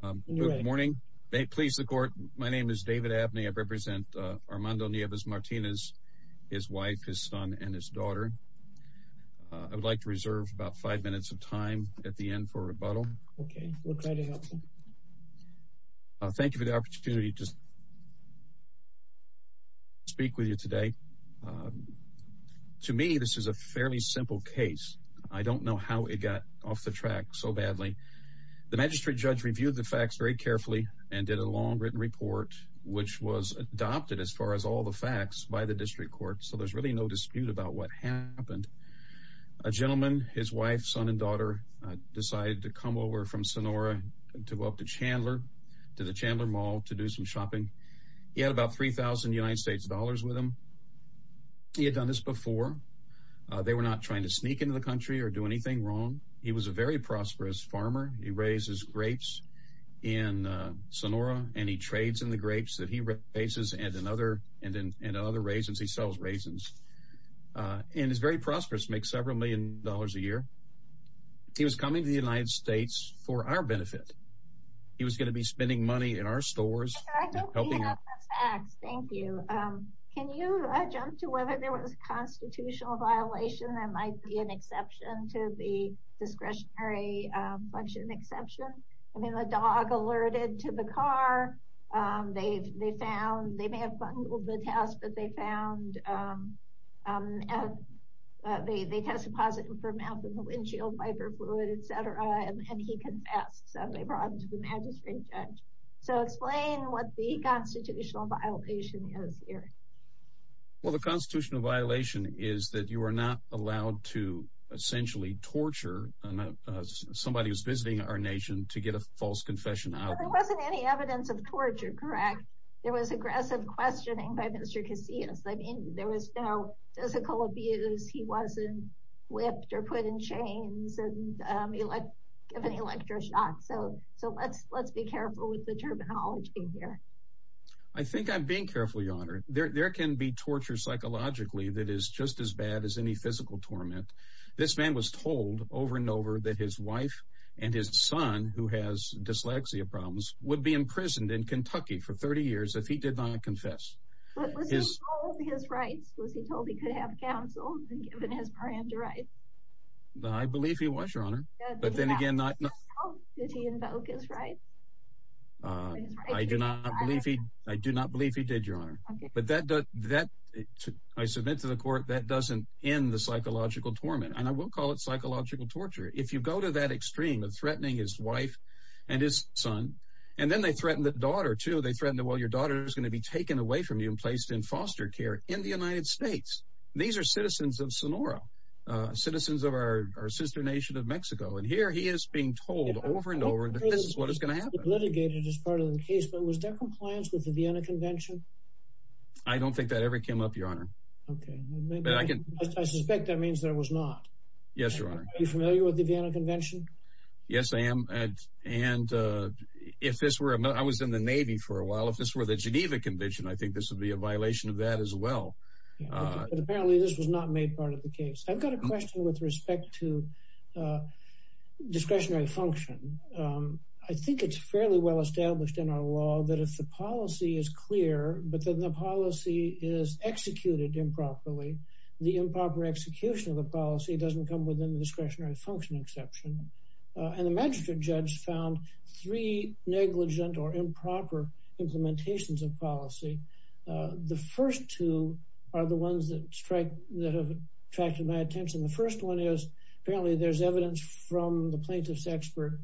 Court. Good morning. May it please the court. My name is David Abney. I represent Armando Nieves Martinez, his wife, his son, and his daughter. I would like to reserve about five minutes of time at the end for rebuttal. Okay. We'll try to help you. Thank you for the opportunity to speak with you today. To me, this is a fairly simple case. I don't know how it got off the track so badly. The magistrate judge reviewed the facts very carefully and did a long written report which was adopted as far as all the facts by the district court. So there's really no dispute about what happened. A gentleman, his wife, son, and daughter decided to come over from Sonora to go up to Chandler, to the Chandler Mall to do some shopping. He had about three thousand United States dollars with him. He had done this before. They were not trying to sneak into the country or do anything wrong. He was a very prosperous farmer. He raises grapes in Sonora and he trades in the grapes that he raises and in other raisins. He sells raisins and is very prosperous. Makes several million dollars a year. He was coming to the United States for our benefit. He was going to be spending money in our stores. I don't have the facts. Thank you. Can you jump to whether there was a constitutional violation that might be an exception to the discretionary function exception? I mean, the dog alerted to the car. They found, they may have bungled the test, but they found, they tested positive for methamphetamine, windshield wiper fluid, etc. and he confessed. So they brought him to the magistrate judge. So explain what the constitutional violation is here. Well, the constitutional violation is that you are not allowed to essentially torture somebody who's visiting our nation to get a false confession. There wasn't any evidence of torture, correct? There was aggressive questioning by Mr. Casillas. I mean, there was no physical abuse. He wasn't whipped or put in chains and given electroshock. So let's be careful with the terminology here. I think I'm being careful, Your Honor. There can be torture psychologically that is just as bad as any physical torment. This man was told over and over that his wife and his son, who has dyslexia problems, would be imprisoned in Kentucky for 30 years if he did not confess. But was he told his rights? Was he told he could have counsel and given his brand of rights? I believe he was, but then again, I do not believe he did, Your Honor. But I submit to the court that doesn't end the psychological torment, and I will call it psychological torture. If you go to that extreme of threatening his wife and his son, and then they threaten the daughter, too. They threaten, well, your daughter is going to be taken away from you and placed in foster care in the United And here he is being told over and over that this is what is going to happen. Litigated as part of the case, but was there compliance with the Vienna Convention? I don't think that ever came up, Your Honor. Okay. I suspect that means there was not. Yes, Your Honor. Are you familiar with the Vienna Convention? Yes, I am. And if this were, I was in the Navy for a while. If this were the Geneva Convention, I think this would be a violation of that as well. But apparently this was not made part of the case. I've got a question with respect to discretionary function. I think it's fairly well established in our law that if the policy is clear, but then the policy is executed improperly, the improper execution of the policy doesn't come within the discretionary function exception. And the magistrate judge found three negligent or improper implementations of policy. The first two are the ones that strike that have attracted my attention. The first one is apparently there's evidence from the plaintiff's expert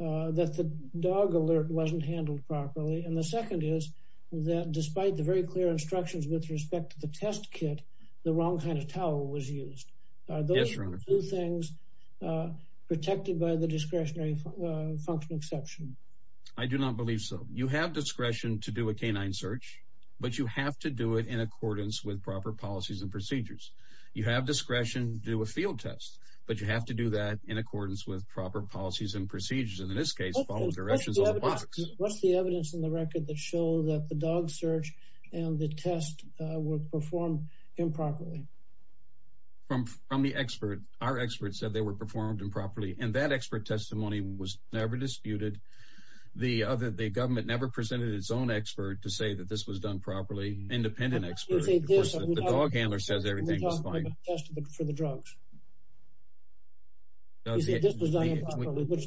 that the dog alert wasn't handled properly. And the second is that despite the very clear instructions with respect to the test kit, the wrong kind of towel was used. Are those two things protected by the discretionary function exception? I do not believe so. You have discretion to do a canine search, but you have to do it in accordance with proper policies and procedures. You have discretion to do a field test, but you have to do that in accordance with proper policies and procedures. And in this case, follow directions on the box. What's the evidence in the record that show that the dog search and the test were performed improperly? From the expert, our experts said they were performed improperly. And that expert testimony was never disputed. The government never presented its own expert to say that this was done properly. Independent expert. The dog handler says everything is fine.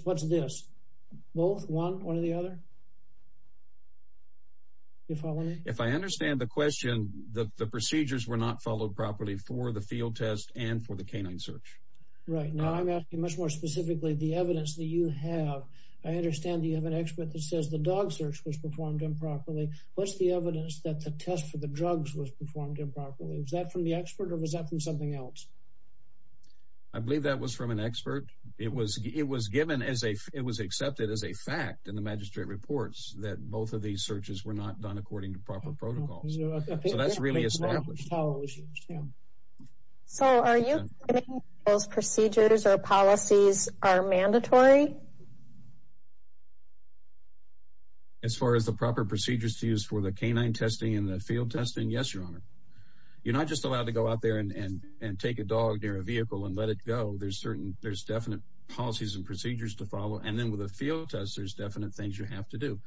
What's this? Both? One or the other? You follow me? If I understand the question, the procedures were not followed properly for the field test and for the canine search. Right. Now I'm asking much more specifically the evidence that you have. I understand you have an expert that says the dog search was performed improperly. What's the evidence that the test for the drugs was performed improperly? Was that from the expert or was that from something else? I believe that was from an expert. It was it was given as a it was accepted as a fact in the magistrate reports that both of these searches were not done according to proper protocols. So that's really a. So are you those procedures or policies are mandatory? As far as the proper procedures to use for the canine testing in the field testing? Yes, Your Honor. You're not just allowed to go out there and take a dog near a vehicle and let it go. There's certain there's definite policies and procedures to follow. And then with a field test, there's definite things you have to do.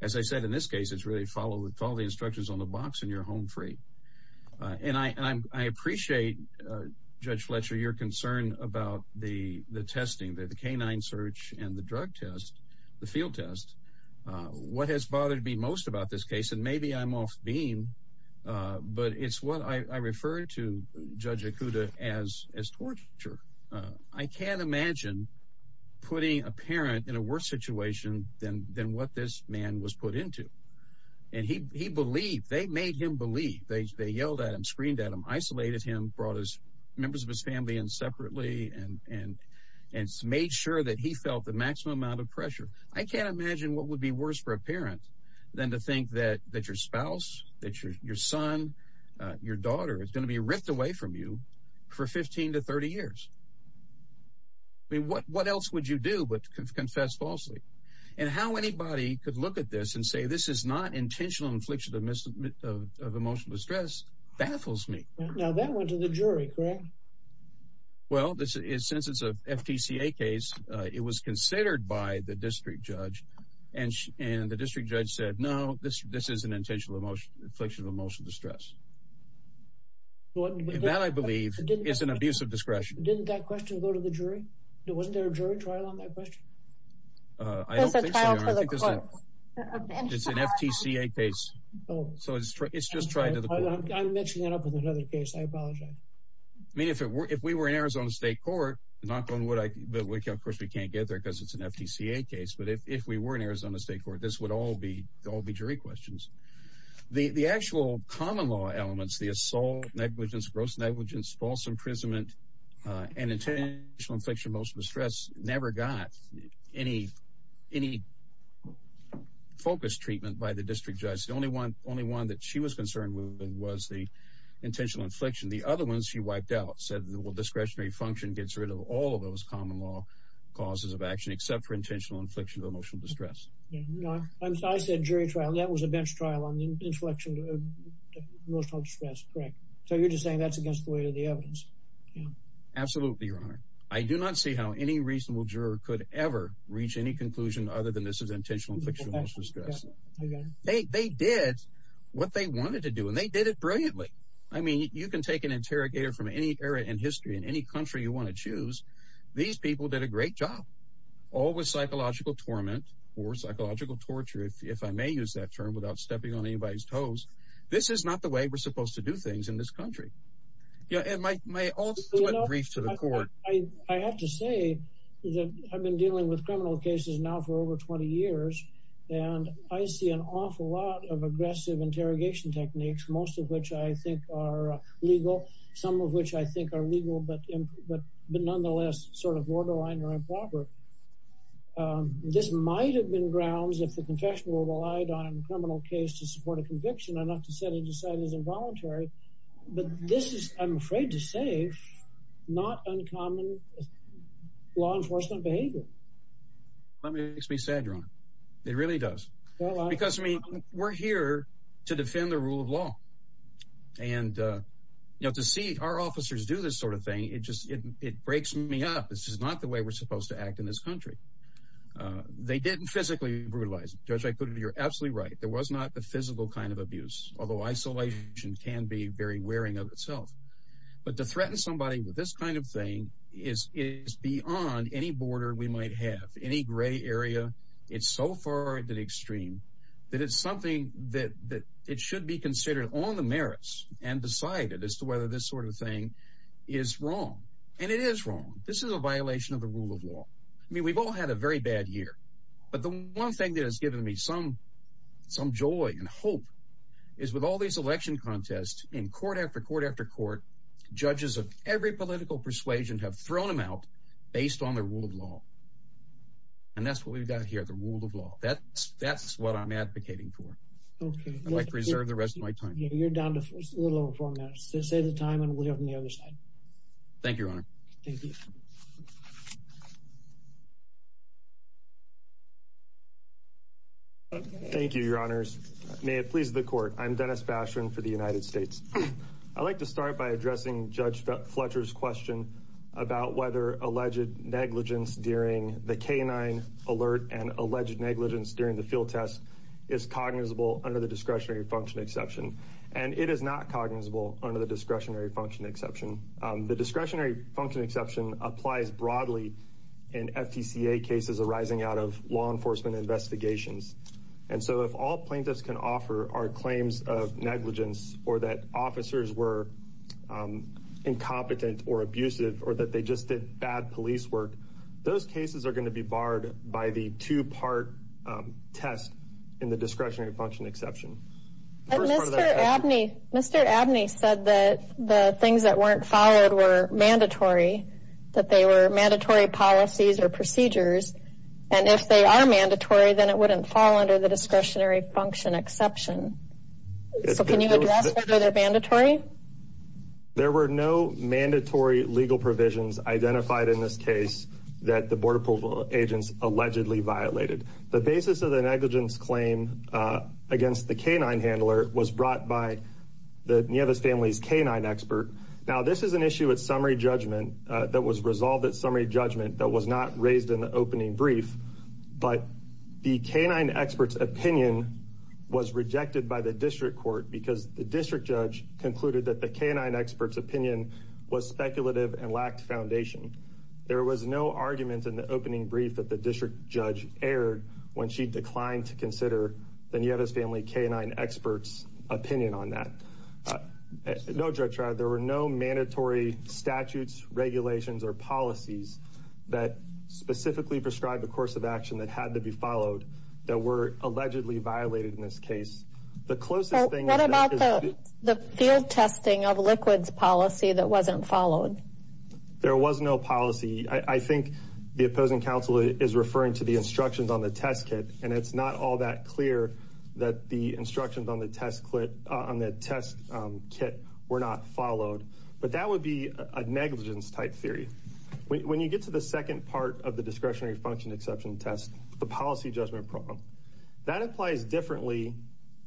As I said, in this case, it's really follow with all the instructions on the box and you're home free. And I appreciate Judge Fletcher, your concern about the the testing, the canine search and the drug test, the field test. What has bothered me most about this case? And maybe I'm off beam, but it's what I refer to Judge Akuta as as torture. I can't imagine putting a parent in a worse situation than than what this man was put into. And he he believed they made him believe they yelled at him, screamed at him, isolated him, brought his members of his family and separately and and and made sure that he felt the maximum amount of pressure. I can't imagine what would be worse for a parent than to think that that your spouse, that your son, your daughter is going to be ripped away from you for 15 to 30 years. I mean, what what else would you do but confess falsely and how anybody could look at this and say this is not intentional infliction of emotional distress baffles me. Now, that went to the jury, correct? Well, this is since it's a FTCA case, it was considered by the district judge and and the district judge said, no, this this is an intentional emotion, infliction of emotional distress. That I believe is an abuse of discretion. Didn't that question go to the jury? It wasn't there a jury trial on that question? I don't think so. It's an FTCA case. Oh, so it's it's just trying to the court. I'm mixing that up with another case. I apologize. I mean, if it were if we were in Arizona State Court, knock on wood, of course, we can't get there because it's an FTCA case. But if we were in Arizona State Court, this would all be all be jury questions. The actual common law elements, the assault, negligence, gross negligence, false imprisonment and intentional infliction of emotional distress never got any any focus treatment by the district judge. The only one only one that she was concerned with was the intentional infliction. The other ones she wiped out, said the discretionary function gets rid of all of those common law causes of action except for intentional infliction of emotional distress. I said jury trial. That was a bench trial on inflection, emotional distress. Correct. So you're just saying that's against the weight of the evidence. Absolutely, Your Honor. I do not see how any reasonable juror could ever reach any conclusion other than this is intentional infliction of emotional distress. They they did what they wanted to do, and they did it brilliantly. I mean, you can take an interrogator from any area in history in any country you want to choose. These people did a great job, all with psychological torment or psychological torture, if I may use that term without stepping on anybody's toes. This is not the way we're supposed to do things in this country. Yeah. And my my brief to the court, I have to say that I've been dealing with criminal cases now for over 20 years. And I see an awful lot of aggressive interrogation techniques, most of which I think are legal, some of which I think are legal, but but but nonetheless, sort of borderline or improper. This might have been grounds if the confessional relied on a criminal case to support a conviction or not to set it aside as involuntary. But this is, I'm afraid to not uncommon law enforcement behavior. That makes me sad, your honor. It really does. Because, I mean, we're here to defend the rule of law. And, you know, to see our officers do this sort of thing, it just it breaks me up. This is not the way we're supposed to act in this country. They didn't physically brutalize. Judge, I put it. You're absolutely right. There was not the physical kind of abuse, although isolation can be very wearing of itself. But to threaten somebody with this kind of thing is is beyond any border we might have any gray area. It's so far that extreme that it's something that it should be considered on the merits and decided as to whether this sort of thing is wrong. And it is wrong. This is a violation of the rule of law. I mean, we've all had a very bad year. But the one thing that has given me some some joy and hope is with all these election contests in court after court after court, judges of every political persuasion have thrown them out based on the rule of law. And that's what we've got here, the rule of law. That's that's what I'm advocating for. OK, I'd like to reserve the rest of my time. You're down to a little over four minutes to save the time and we'll have on the other side. Thank you, your honor. Thank you. OK, thank you, your honors. May it please the court. I'm Dennis Bastian for the United States. I'd like to start by addressing Judge Fletcher's question about whether alleged negligence during the canine alert and alleged negligence during the field test is cognizable under the discretionary function exception. And it is not cognizable under the discretionary function exception. The discretionary function exception applies broadly in FTCA cases arising out of law enforcement investigations. And so if all plaintiffs can offer our claims of negligence or that officers were incompetent or abusive or that they just did bad police work, those cases are going to be barred by the two part test in the discretionary function exception. And Mr. Abney, Mr. Abney said that the things that weren't followed were mandatory, that they were mandatory policies or procedures. And if they are mandatory, then it wouldn't fall under the discretionary function exception. So can you address whether they're mandatory? There were no mandatory legal provisions identified in this case that the Border Patrol agents allegedly violated. The basis of the canine handler was brought by the Nieves family's canine expert. Now, this is an issue at summary judgment that was resolved at summary judgment that was not raised in the opening brief. But the canine expert's opinion was rejected by the district court because the district judge concluded that the canine expert's opinion was speculative and lacked foundation. There was no argument in the opening brief that the district judge erred when she declined to examine the canine expert's opinion on that. There were no mandatory statutes, regulations, or policies that specifically prescribed the course of action that had to be followed that were allegedly violated in this case. What about the field testing of liquids policy that wasn't followed? There was no policy. I think the opposing counsel is referring to the instructions on the test kit and it's not all that clear that the instructions on the test kit were not followed. But that would be a negligence type theory. When you get to the second part of the discretionary function exception test, the policy judgment problem, that applies differently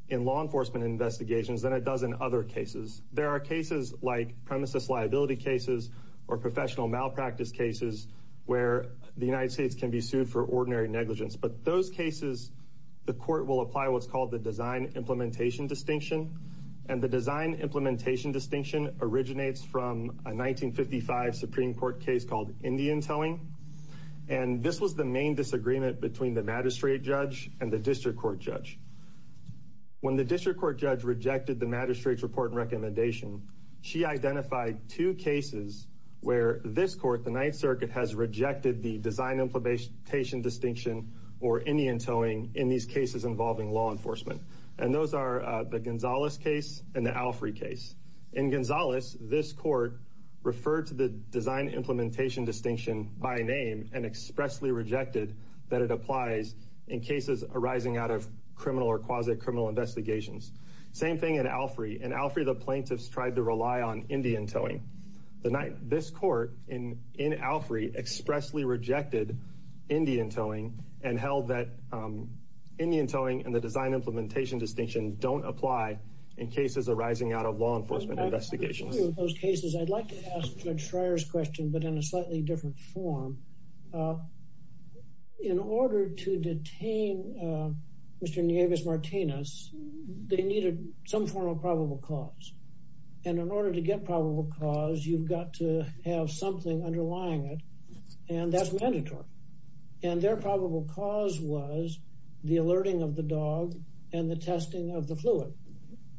in law enforcement investigations than it does in other cases. There are cases like premises liability cases or professional malpractice cases where the United States can be sued for ordinary negligence. But in those cases, the court will apply what's called the design implementation distinction. And the design implementation distinction originates from a 1955 Supreme Court case called Indian Towing. And this was the main disagreement between the magistrate judge and the district court judge. When the district court judge rejected the magistrate's report and recommendation, she identified two cases where this court, the Ninth Circuit, has rejected the Indian Towing in these cases involving law enforcement. And those are the Gonzalez case and the Alfrey case. In Gonzalez, this court referred to the design implementation distinction by name and expressly rejected that it applies in cases arising out of criminal or quasi-criminal investigations. Same thing in Alfrey. In Alfrey, the plaintiffs tried to rely on Indian Towing. The night this court in Alfrey expressly rejected Indian Towing and held that Indian Towing and the design implementation distinction don't apply in cases arising out of law enforcement investigations. In those cases, I'd like to ask Judge Schreyer's question, but in a slightly different form. In order to detain Mr. Nieves Martinez, they needed some form of probable cause. And in order to get probable cause, you've got to have something underlying it. And that's mandatory. And their probable cause was the alerting of the dog and the testing of the fluid.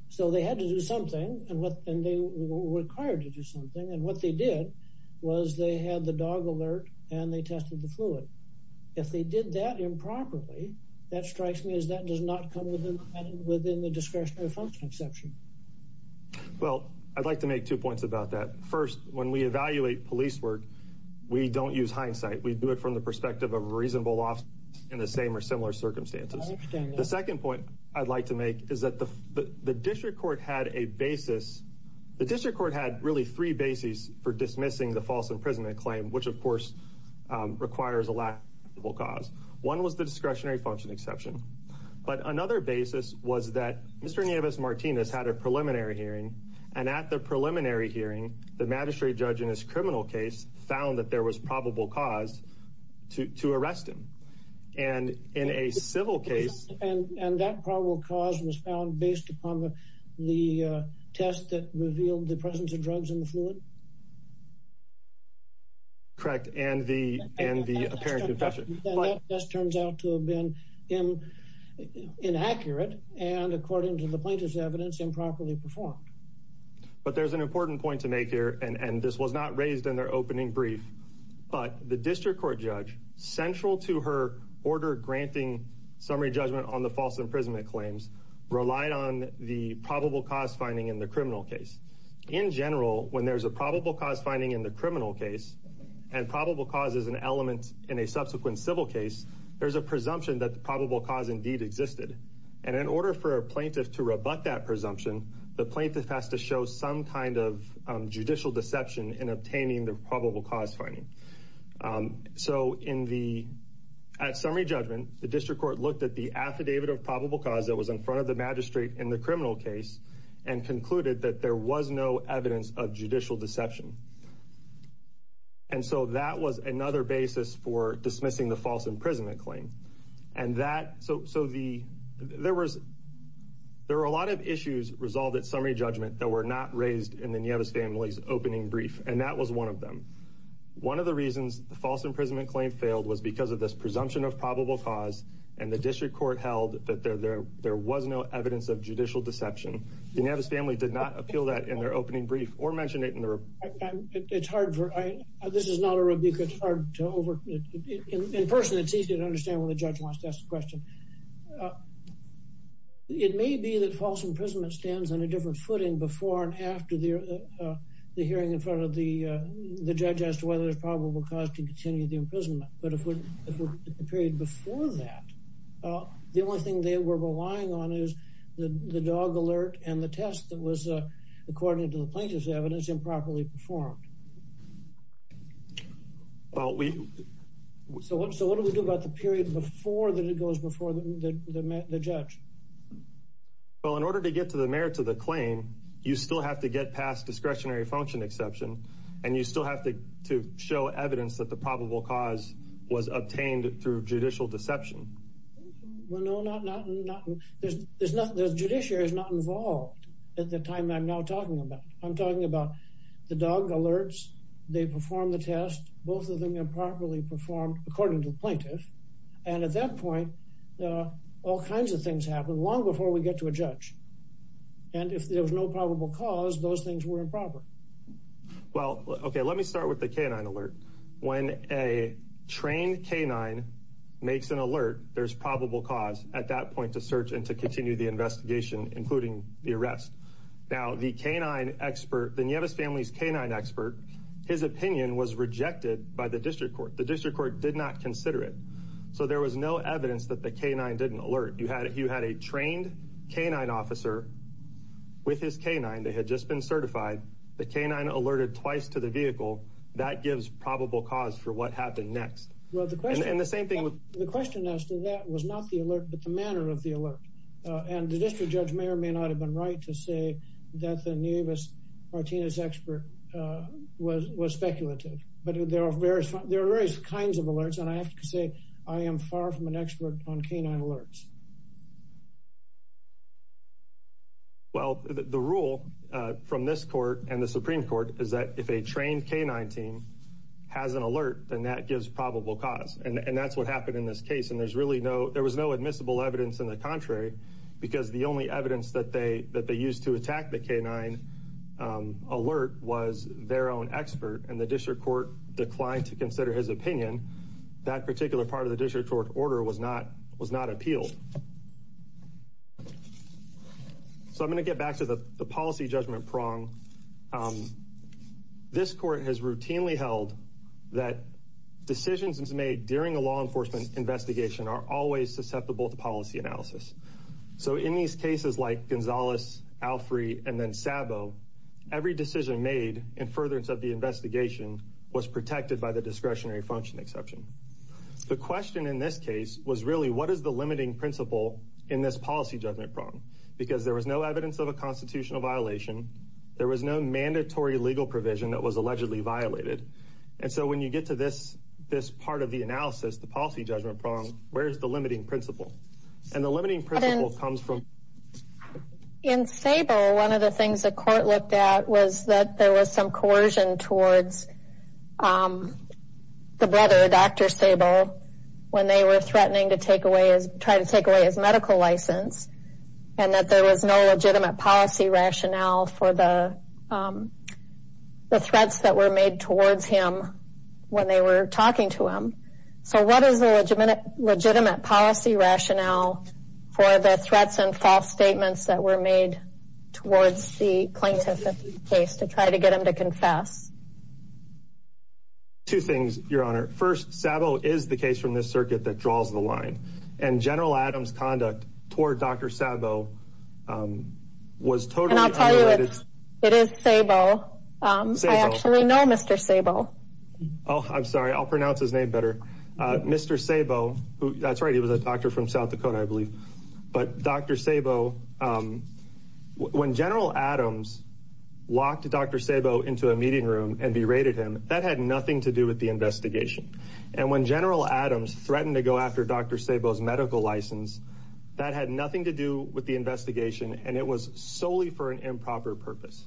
So they had to do something and they were required to do something. And what they did was they had the dog alert and they tested the fluid. If they did that improperly, that strikes me as that does not come within the discretionary function exception. Well, I'd like to make two points about that. First, when we evaluate police work, we don't use hindsight. We do it from the perspective of a reasonable law in the same or similar circumstances. The second point I'd like to make is that the district court had a basis. The district court had really three bases for dismissing the false imprisonment claim, which, of course, requires a lack of cause. One was the discretionary function exception. But another basis was that Mr. Nieves Martinez had a preliminary hearing. And at the preliminary hearing, the magistrate judge in his criminal case found that there was probable cause to arrest him. And in a civil case, and that probable cause was found based upon the test that revealed the presence of drugs in the correct and the and the apparent confession just turns out to have been inaccurate. And according to the plaintiff's evidence, improperly performed. But there's an important point to make here. And this was not raised in their opening brief. But the district court judge central to her order granting summary judgment on the false imprisonment claims relied on the probable cause finding in the criminal case. In general, when there's a probable cause finding in the criminal case and probable cause is an element in a subsequent civil case, there's a presumption that the probable cause indeed existed. And in order for a plaintiff to rebut that presumption, the plaintiff has to show some kind of judicial deception in obtaining the probable cause finding. So in the at summary judgment, the district court looked at the affidavit of probable cause that was in front of the magistrate in the criminal case, and concluded that there was no evidence of judicial deception. And so that was another basis for dismissing the false imprisonment claim. And that so so the there was there were a lot of issues resolved at summary judgment that were not raised in the family's opening brief. And that was one of them. One of the reasons the false imprisonment claim failed was because of this presumption of probable cause. And the district held that there was no evidence of judicial deception. The Navis family did not appeal that in their opening brief or mention it in the report. It's hard for I, this is not a rebuke, it's hard to over in person, it's easy to understand when the judge wants to ask the question. It may be that false imprisonment stands on a different footing before and after the hearing in front of the judge as to whether there's probable cause to continue the imprisonment. The period before that, the only thing they were relying on is the dog alert and the test that was according to the plaintiff's evidence improperly performed. Well, we so what so what do we do about the period before that it goes before the judge? Well, in order to get to the merits of the claim, you still have to get past discretionary function and you still have to to show evidence that the probable cause was obtained through judicial deception. Well, no, not not not. There's there's nothing the judiciary is not involved at the time I'm now talking about. I'm talking about the dog alerts. They perform the test. Both of them improperly performed according to the plaintiff. And at that point, all kinds of things happen long before we get to a judge. And if there was no probable cause, those things were improper. Well, OK, let me start with the canine alert. When a trained canine makes an alert, there's probable cause at that point to search and to continue the investigation, including the arrest. Now, the canine expert, the family's canine expert, his opinion was rejected by the district court. The district court did not consider it. So there was no evidence that the canine didn't alert. You had you had a trained canine officer with his canine. They had just been certified. The canine alerted twice to the vehicle. That gives probable cause for what happened next. Well, the question and the same thing with the question as to that was not the alert, but the manner of the alert. And the district judge may or may not have been right to say that the newest Martinez expert was was speculative. But there are various there are various kinds of alerts. And I have to say I am far from an expert on canine alerts. Well, the rule from this court and the Supreme Court is that if a trained canine team has an alert, then that gives probable cause. And that's what happened in this case. And there's really no there was no admissible evidence in the contrary, because the only evidence that they that they used to attack the canine alert was their own expert. And the district court declined to consider his opinion. That particular part of the district court order was not was not appealed. And so so I'm going to get back to the policy judgment prong. This court has routinely held that decisions made during a law enforcement investigation are always susceptible to policy analysis. So in these cases like Gonzalez, Alfrey and then Sabo, every decision made in furtherance of the investigation was protected by the discretionary function exception. The question in this case was really what is the limiting principle in this policy judgment prong? Because there was no evidence of a constitutional violation. There was no mandatory legal provision that was allegedly violated. And so when you get to this, this part of the analysis, the policy judgment prong, where's the limiting principle? And the limiting principle comes from in Sabo. One of the things the court looked at was that there was some coercion towards the brother, Dr. Sabo, when they were threatening to take away, try to take away his medical license. And that there was no legitimate policy rationale for the threats that were made towards him when they were talking to him. So what is the legitimate legitimate policy rationale for the threats and false statements that were made towards the plaintiff in this case to try to get him to confess? Two things, Your Honor. First, Sabo is the case from this circuit that draws the line. And General Adams' conduct toward Dr. Sabo was totally unrelated. And I'll tell you, it is Sabo. I actually know Mr. Sabo. Oh, I'm sorry. I'll pronounce his name better. Mr. Sabo, that's right. He was a doctor from South Dakota, I believe. But Dr. Sabo, when General Adams locked Dr. Sabo into a meeting room and berated him, that had nothing to do with the investigation. And when General Adams threatened to go after Dr. Sabo's medical license, that had nothing to do with the investigation, and it was solely for an improper purpose.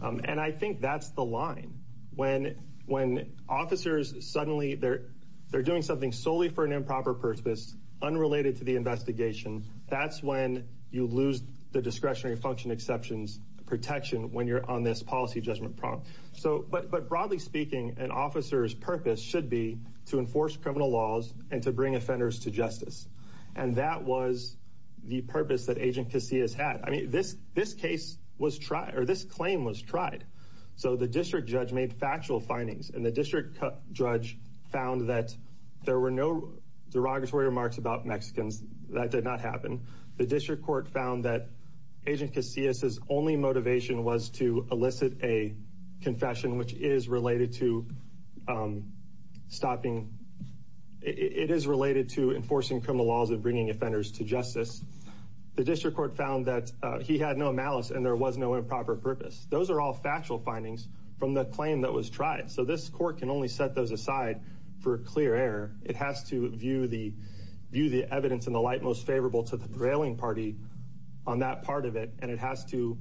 And I think that's the line. When officers suddenly, they're doing something solely for an improper purpose, unrelated to the investigation, that's when you lose the discretionary function exceptions protection when you're on this policy judgment prompt. But broadly speaking, an officer's purpose should be to enforce criminal laws and to bring offenders to justice. And that was the purpose that Agent Casillas had. I mean, this case was tried, or this claim was tried. So the district judge made factual findings, and the district judge found that there were no derogatory remarks about Mexicans. That did not happen. The district court found that Agent Casillas' only motivation was to elicit a confession, which is related to stopping, it is related to enforcing criminal laws and bringing offenders to justice. The district court found that he had no malice and there was no improper purpose. Those are all factual findings from the claim that was tried. So this court can only set those aside for clear error. It has to view the evidence in the light most favorable to the prevailing party on that part of it. And it has to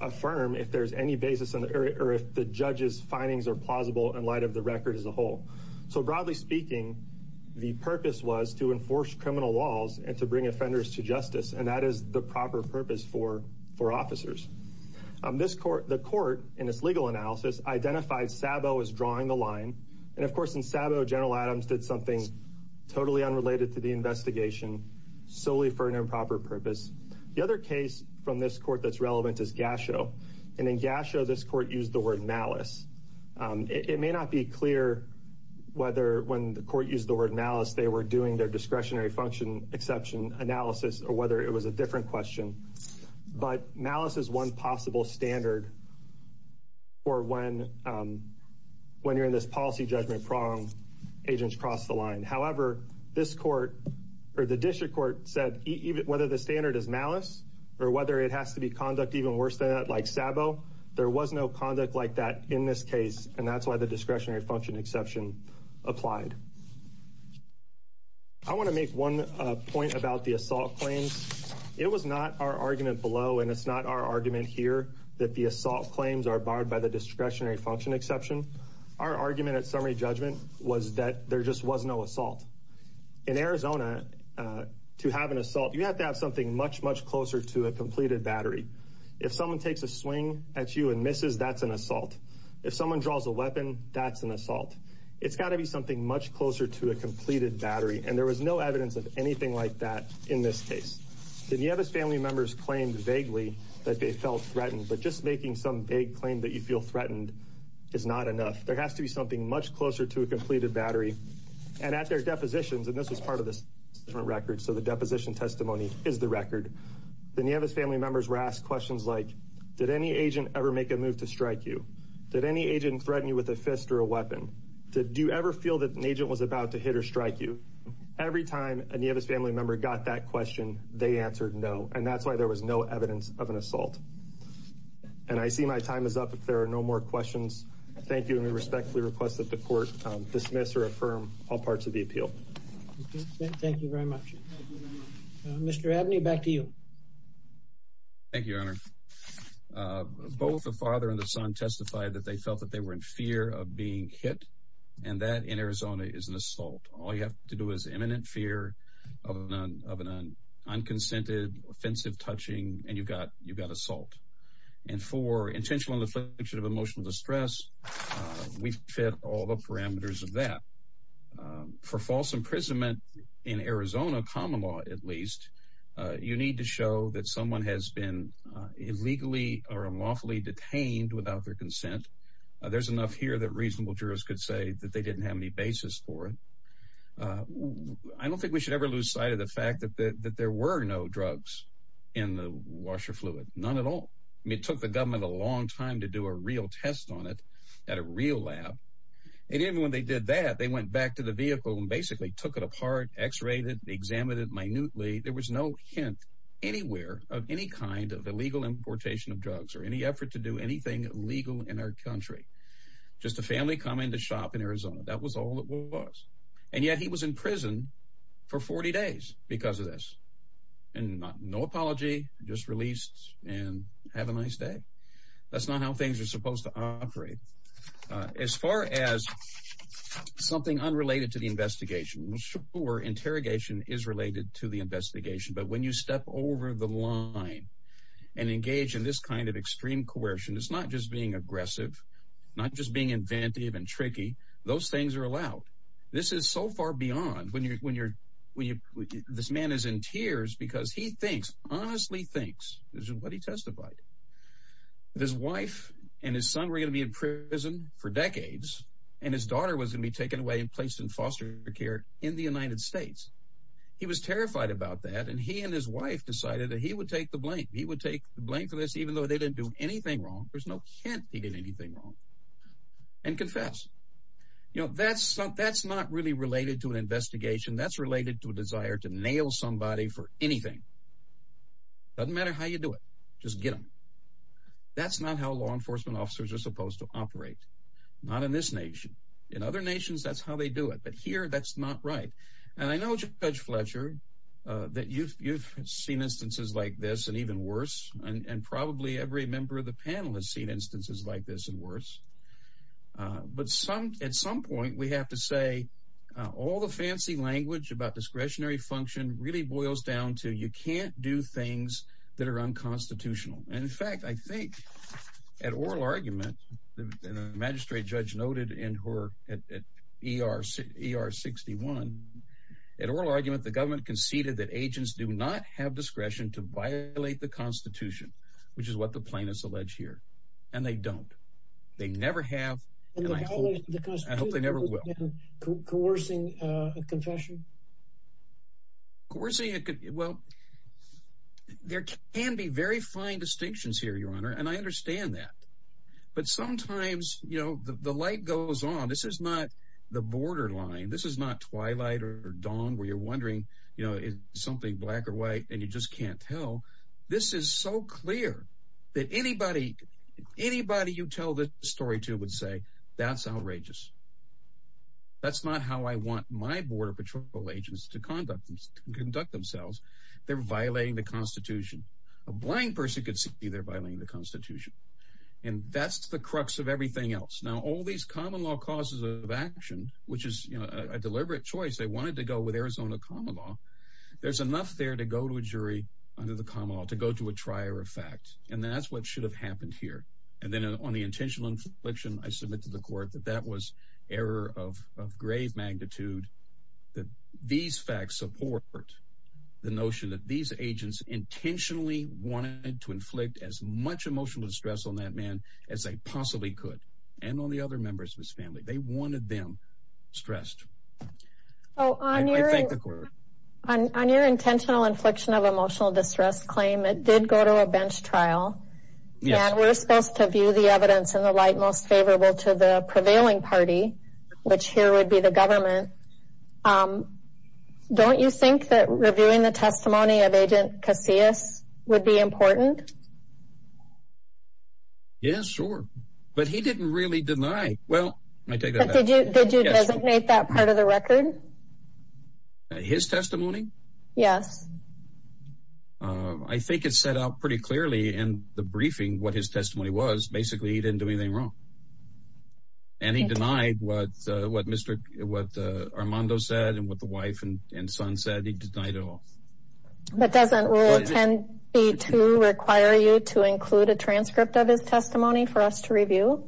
affirm if there's any basis in the area, or if the judge's findings are plausible in light of the record as a whole. So broadly speaking, the purpose was to enforce criminal laws and to bring offenders to justice. And that is the proper purpose for officers. The court, in its legal analysis, identified Sabo as drawing the line. And of course, in Sabo, General Adams did something totally unrelated to the investigation, solely for an improper purpose. The other case from this court that's relevant is Gasho. And in Gasho, this court used the word malice. It may not be clear whether when the court used the word malice they were doing their discretionary function exception analysis, or whether it was a different question. But malice is one possible standard for when you're in this policy judgment prong, agents cross the line. However, this court, or the district court, said whether the standard is malice or whether it has to be conduct even worse than that, like Sabo, there was no conduct like that in this case. And that's why the discretionary function exception applied. I want to make one point about the assault claims. It was not our argument below, and it's not our argument here, that the assault claims are barred by the discretionary function exception. Our argument at summary judgment was that there just was no assault. In Arizona, to have an assault, you have to have something much, much closer to a completed battery. If someone takes a swing at you and misses, that's an assault. If someone draws a weapon, that's an assault. It's got to be something much closer to a completed battery, and there was no evidence of anything like that in this case. The Nieves family members claimed vaguely that they felt threatened, but just making some vague claim that you feel threatened is not enough. There has to be something much closer to a completed battery. And at their depositions, and this was part of this different record, so the deposition testimony is the record, the Nieves family members were asked questions like, did any agent ever make a move to strike you? Did any agent threaten you with a fist or weapon? Did you ever feel that an agent was about to hit or strike you? Every time a Nieves family member got that question, they answered no, and that's why there was no evidence of an assault. And I see my time is up if there are no more questions. Thank you, and we respectfully request that the court dismiss or affirm all parts of the appeal. Thank you very much. Mr. Abney, back to you. Thank you, Honor. Both the father and the son testified that they felt that they were in fear of being hit, and that in Arizona is an assault. All you have to do is imminent fear of an unconsented, offensive touching, and you've got assault. And for intentional infliction of emotional distress, we fit all the parameters of that. For false imprisonment in Arizona, common law at least, you need to show that someone has been illegally or unlawfully detained without their consent. There's enough here that reasonable jurors could say that they didn't have any basis for it. I don't think we should ever lose sight of the fact that there were no drugs in the washer fluid, none at all. It took the government a long time to do a real test on it at a real lab. And even when they did that, they went back to the vehicle and basically took it apart, x-rayed it, examined it minutely. There was no hint anywhere of any kind of illegal importation of drugs or any effort to do anything legal in our country. Just a family coming to shop in Arizona. That was all it was. And yet he was in prison for 40 days because of this. And no apology, just released and have a nice day. That's not how things are supposed to operate. As far as something unrelated to the investigation, sure, interrogation is online and engage in this kind of extreme coercion. It's not just being aggressive, not just being inventive and tricky. Those things are allowed. This is so far beyond when you're when you're when you this man is in tears because he thinks, honestly thinks this is what he testified. His wife and his son were going to be in prison for decades, and his daughter was going to be taken away and placed in foster care in the United States. He was terrified about that, and he and his wife decided that he would take the blame. He would take the blame for this, even though they didn't do anything wrong. There's no hint he did anything wrong and confess. You know, that's not that's not really related to an investigation that's related to a desire to nail somebody for anything. Doesn't matter how you do it, just get them. That's not how law enforcement officers are supposed to operate, not in this nation. In other nations, that's how they do it. But here that's not right. And I know Judge Fletcher that you've you've seen instances like this and even worse, and probably every member of the panel has seen instances like this and worse. But some at some point we have to say all the fancy language about discretionary function really boils down to you can't do things that are unconstitutional. And in fact, I think at oral argument, the magistrate judge noted in her at ER ER 61 at oral argument, the government conceded that agents do not have discretion to violate the Constitution, which is what the plaintiffs allege here. And they don't. They never have. And I hope they never will. Coercing a confession. Coercing. Well, there can be very fine distinctions here, Your Honor, and I understand that. But sometimes, you know, the light goes on. This is not the borderline. This is not twilight or dawn where you're wondering, you know, something black or white, and you just can't tell. This is so clear that anybody, anybody you tell this story to would say that's outrageous. That's not how I want my border patrol agents to conduct conduct themselves. They're violating the Constitution. A blind person could see they're violating the Constitution, and that's the crux of everything else. Now, all these common law causes of action, which is a deliberate choice. They wanted to go with Arizona common law. There's enough there to go to a jury under the common law to go to a trier of fact, and that's what should have happened here. And then on the intentional infliction, I submit to the court that that was error of grave magnitude, that these facts support the notion that these agents intentionally wanted to inflict as much emotional distress on that man as they possibly could, and on the other members of his family. They wanted them stressed. Oh, I thank the court. On your intentional You're supposed to view the evidence in the light most favorable to the prevailing party, which here would be the government. Don't you think that reviewing the testimony of Agent Casillas would be important? Yes, sure. But he didn't really deny. Well, I take that back. Did you designate that part of the record? His testimony? Yes. I think it's set out pretty clearly in the basically he didn't do anything wrong, and he denied what Mr. Armando said and what the wife and son said. He denied it all. But doesn't rule 10B2 require you to include a transcript of his testimony for us to review?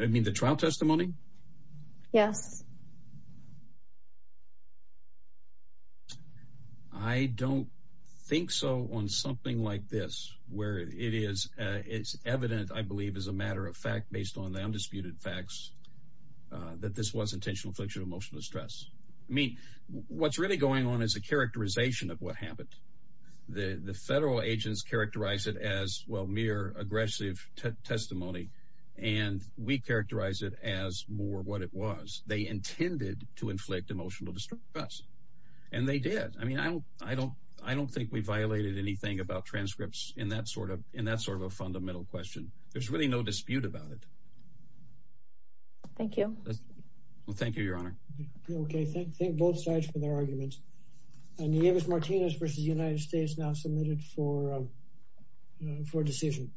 I mean the trial testimony? Yes. I don't think so. On something like this, where it is, it's evident, I believe, as a matter of fact, based on the undisputed facts that this was intentional infliction of emotional distress. I mean, what's really going on is a characterization of what happened. The federal agents characterize it as well, mere aggressive testimony, and we characterize it as more what it was. They intended to inflict emotional distress, and they did. I mean, I don't think we violated anything about transcripts in that sort of a fundamental question. There's really no dispute about it. Thank you. Well, thank you, Your Honor. Okay, thank both sides for their arguments. And Davis Martinez versus United States now submitted for decision.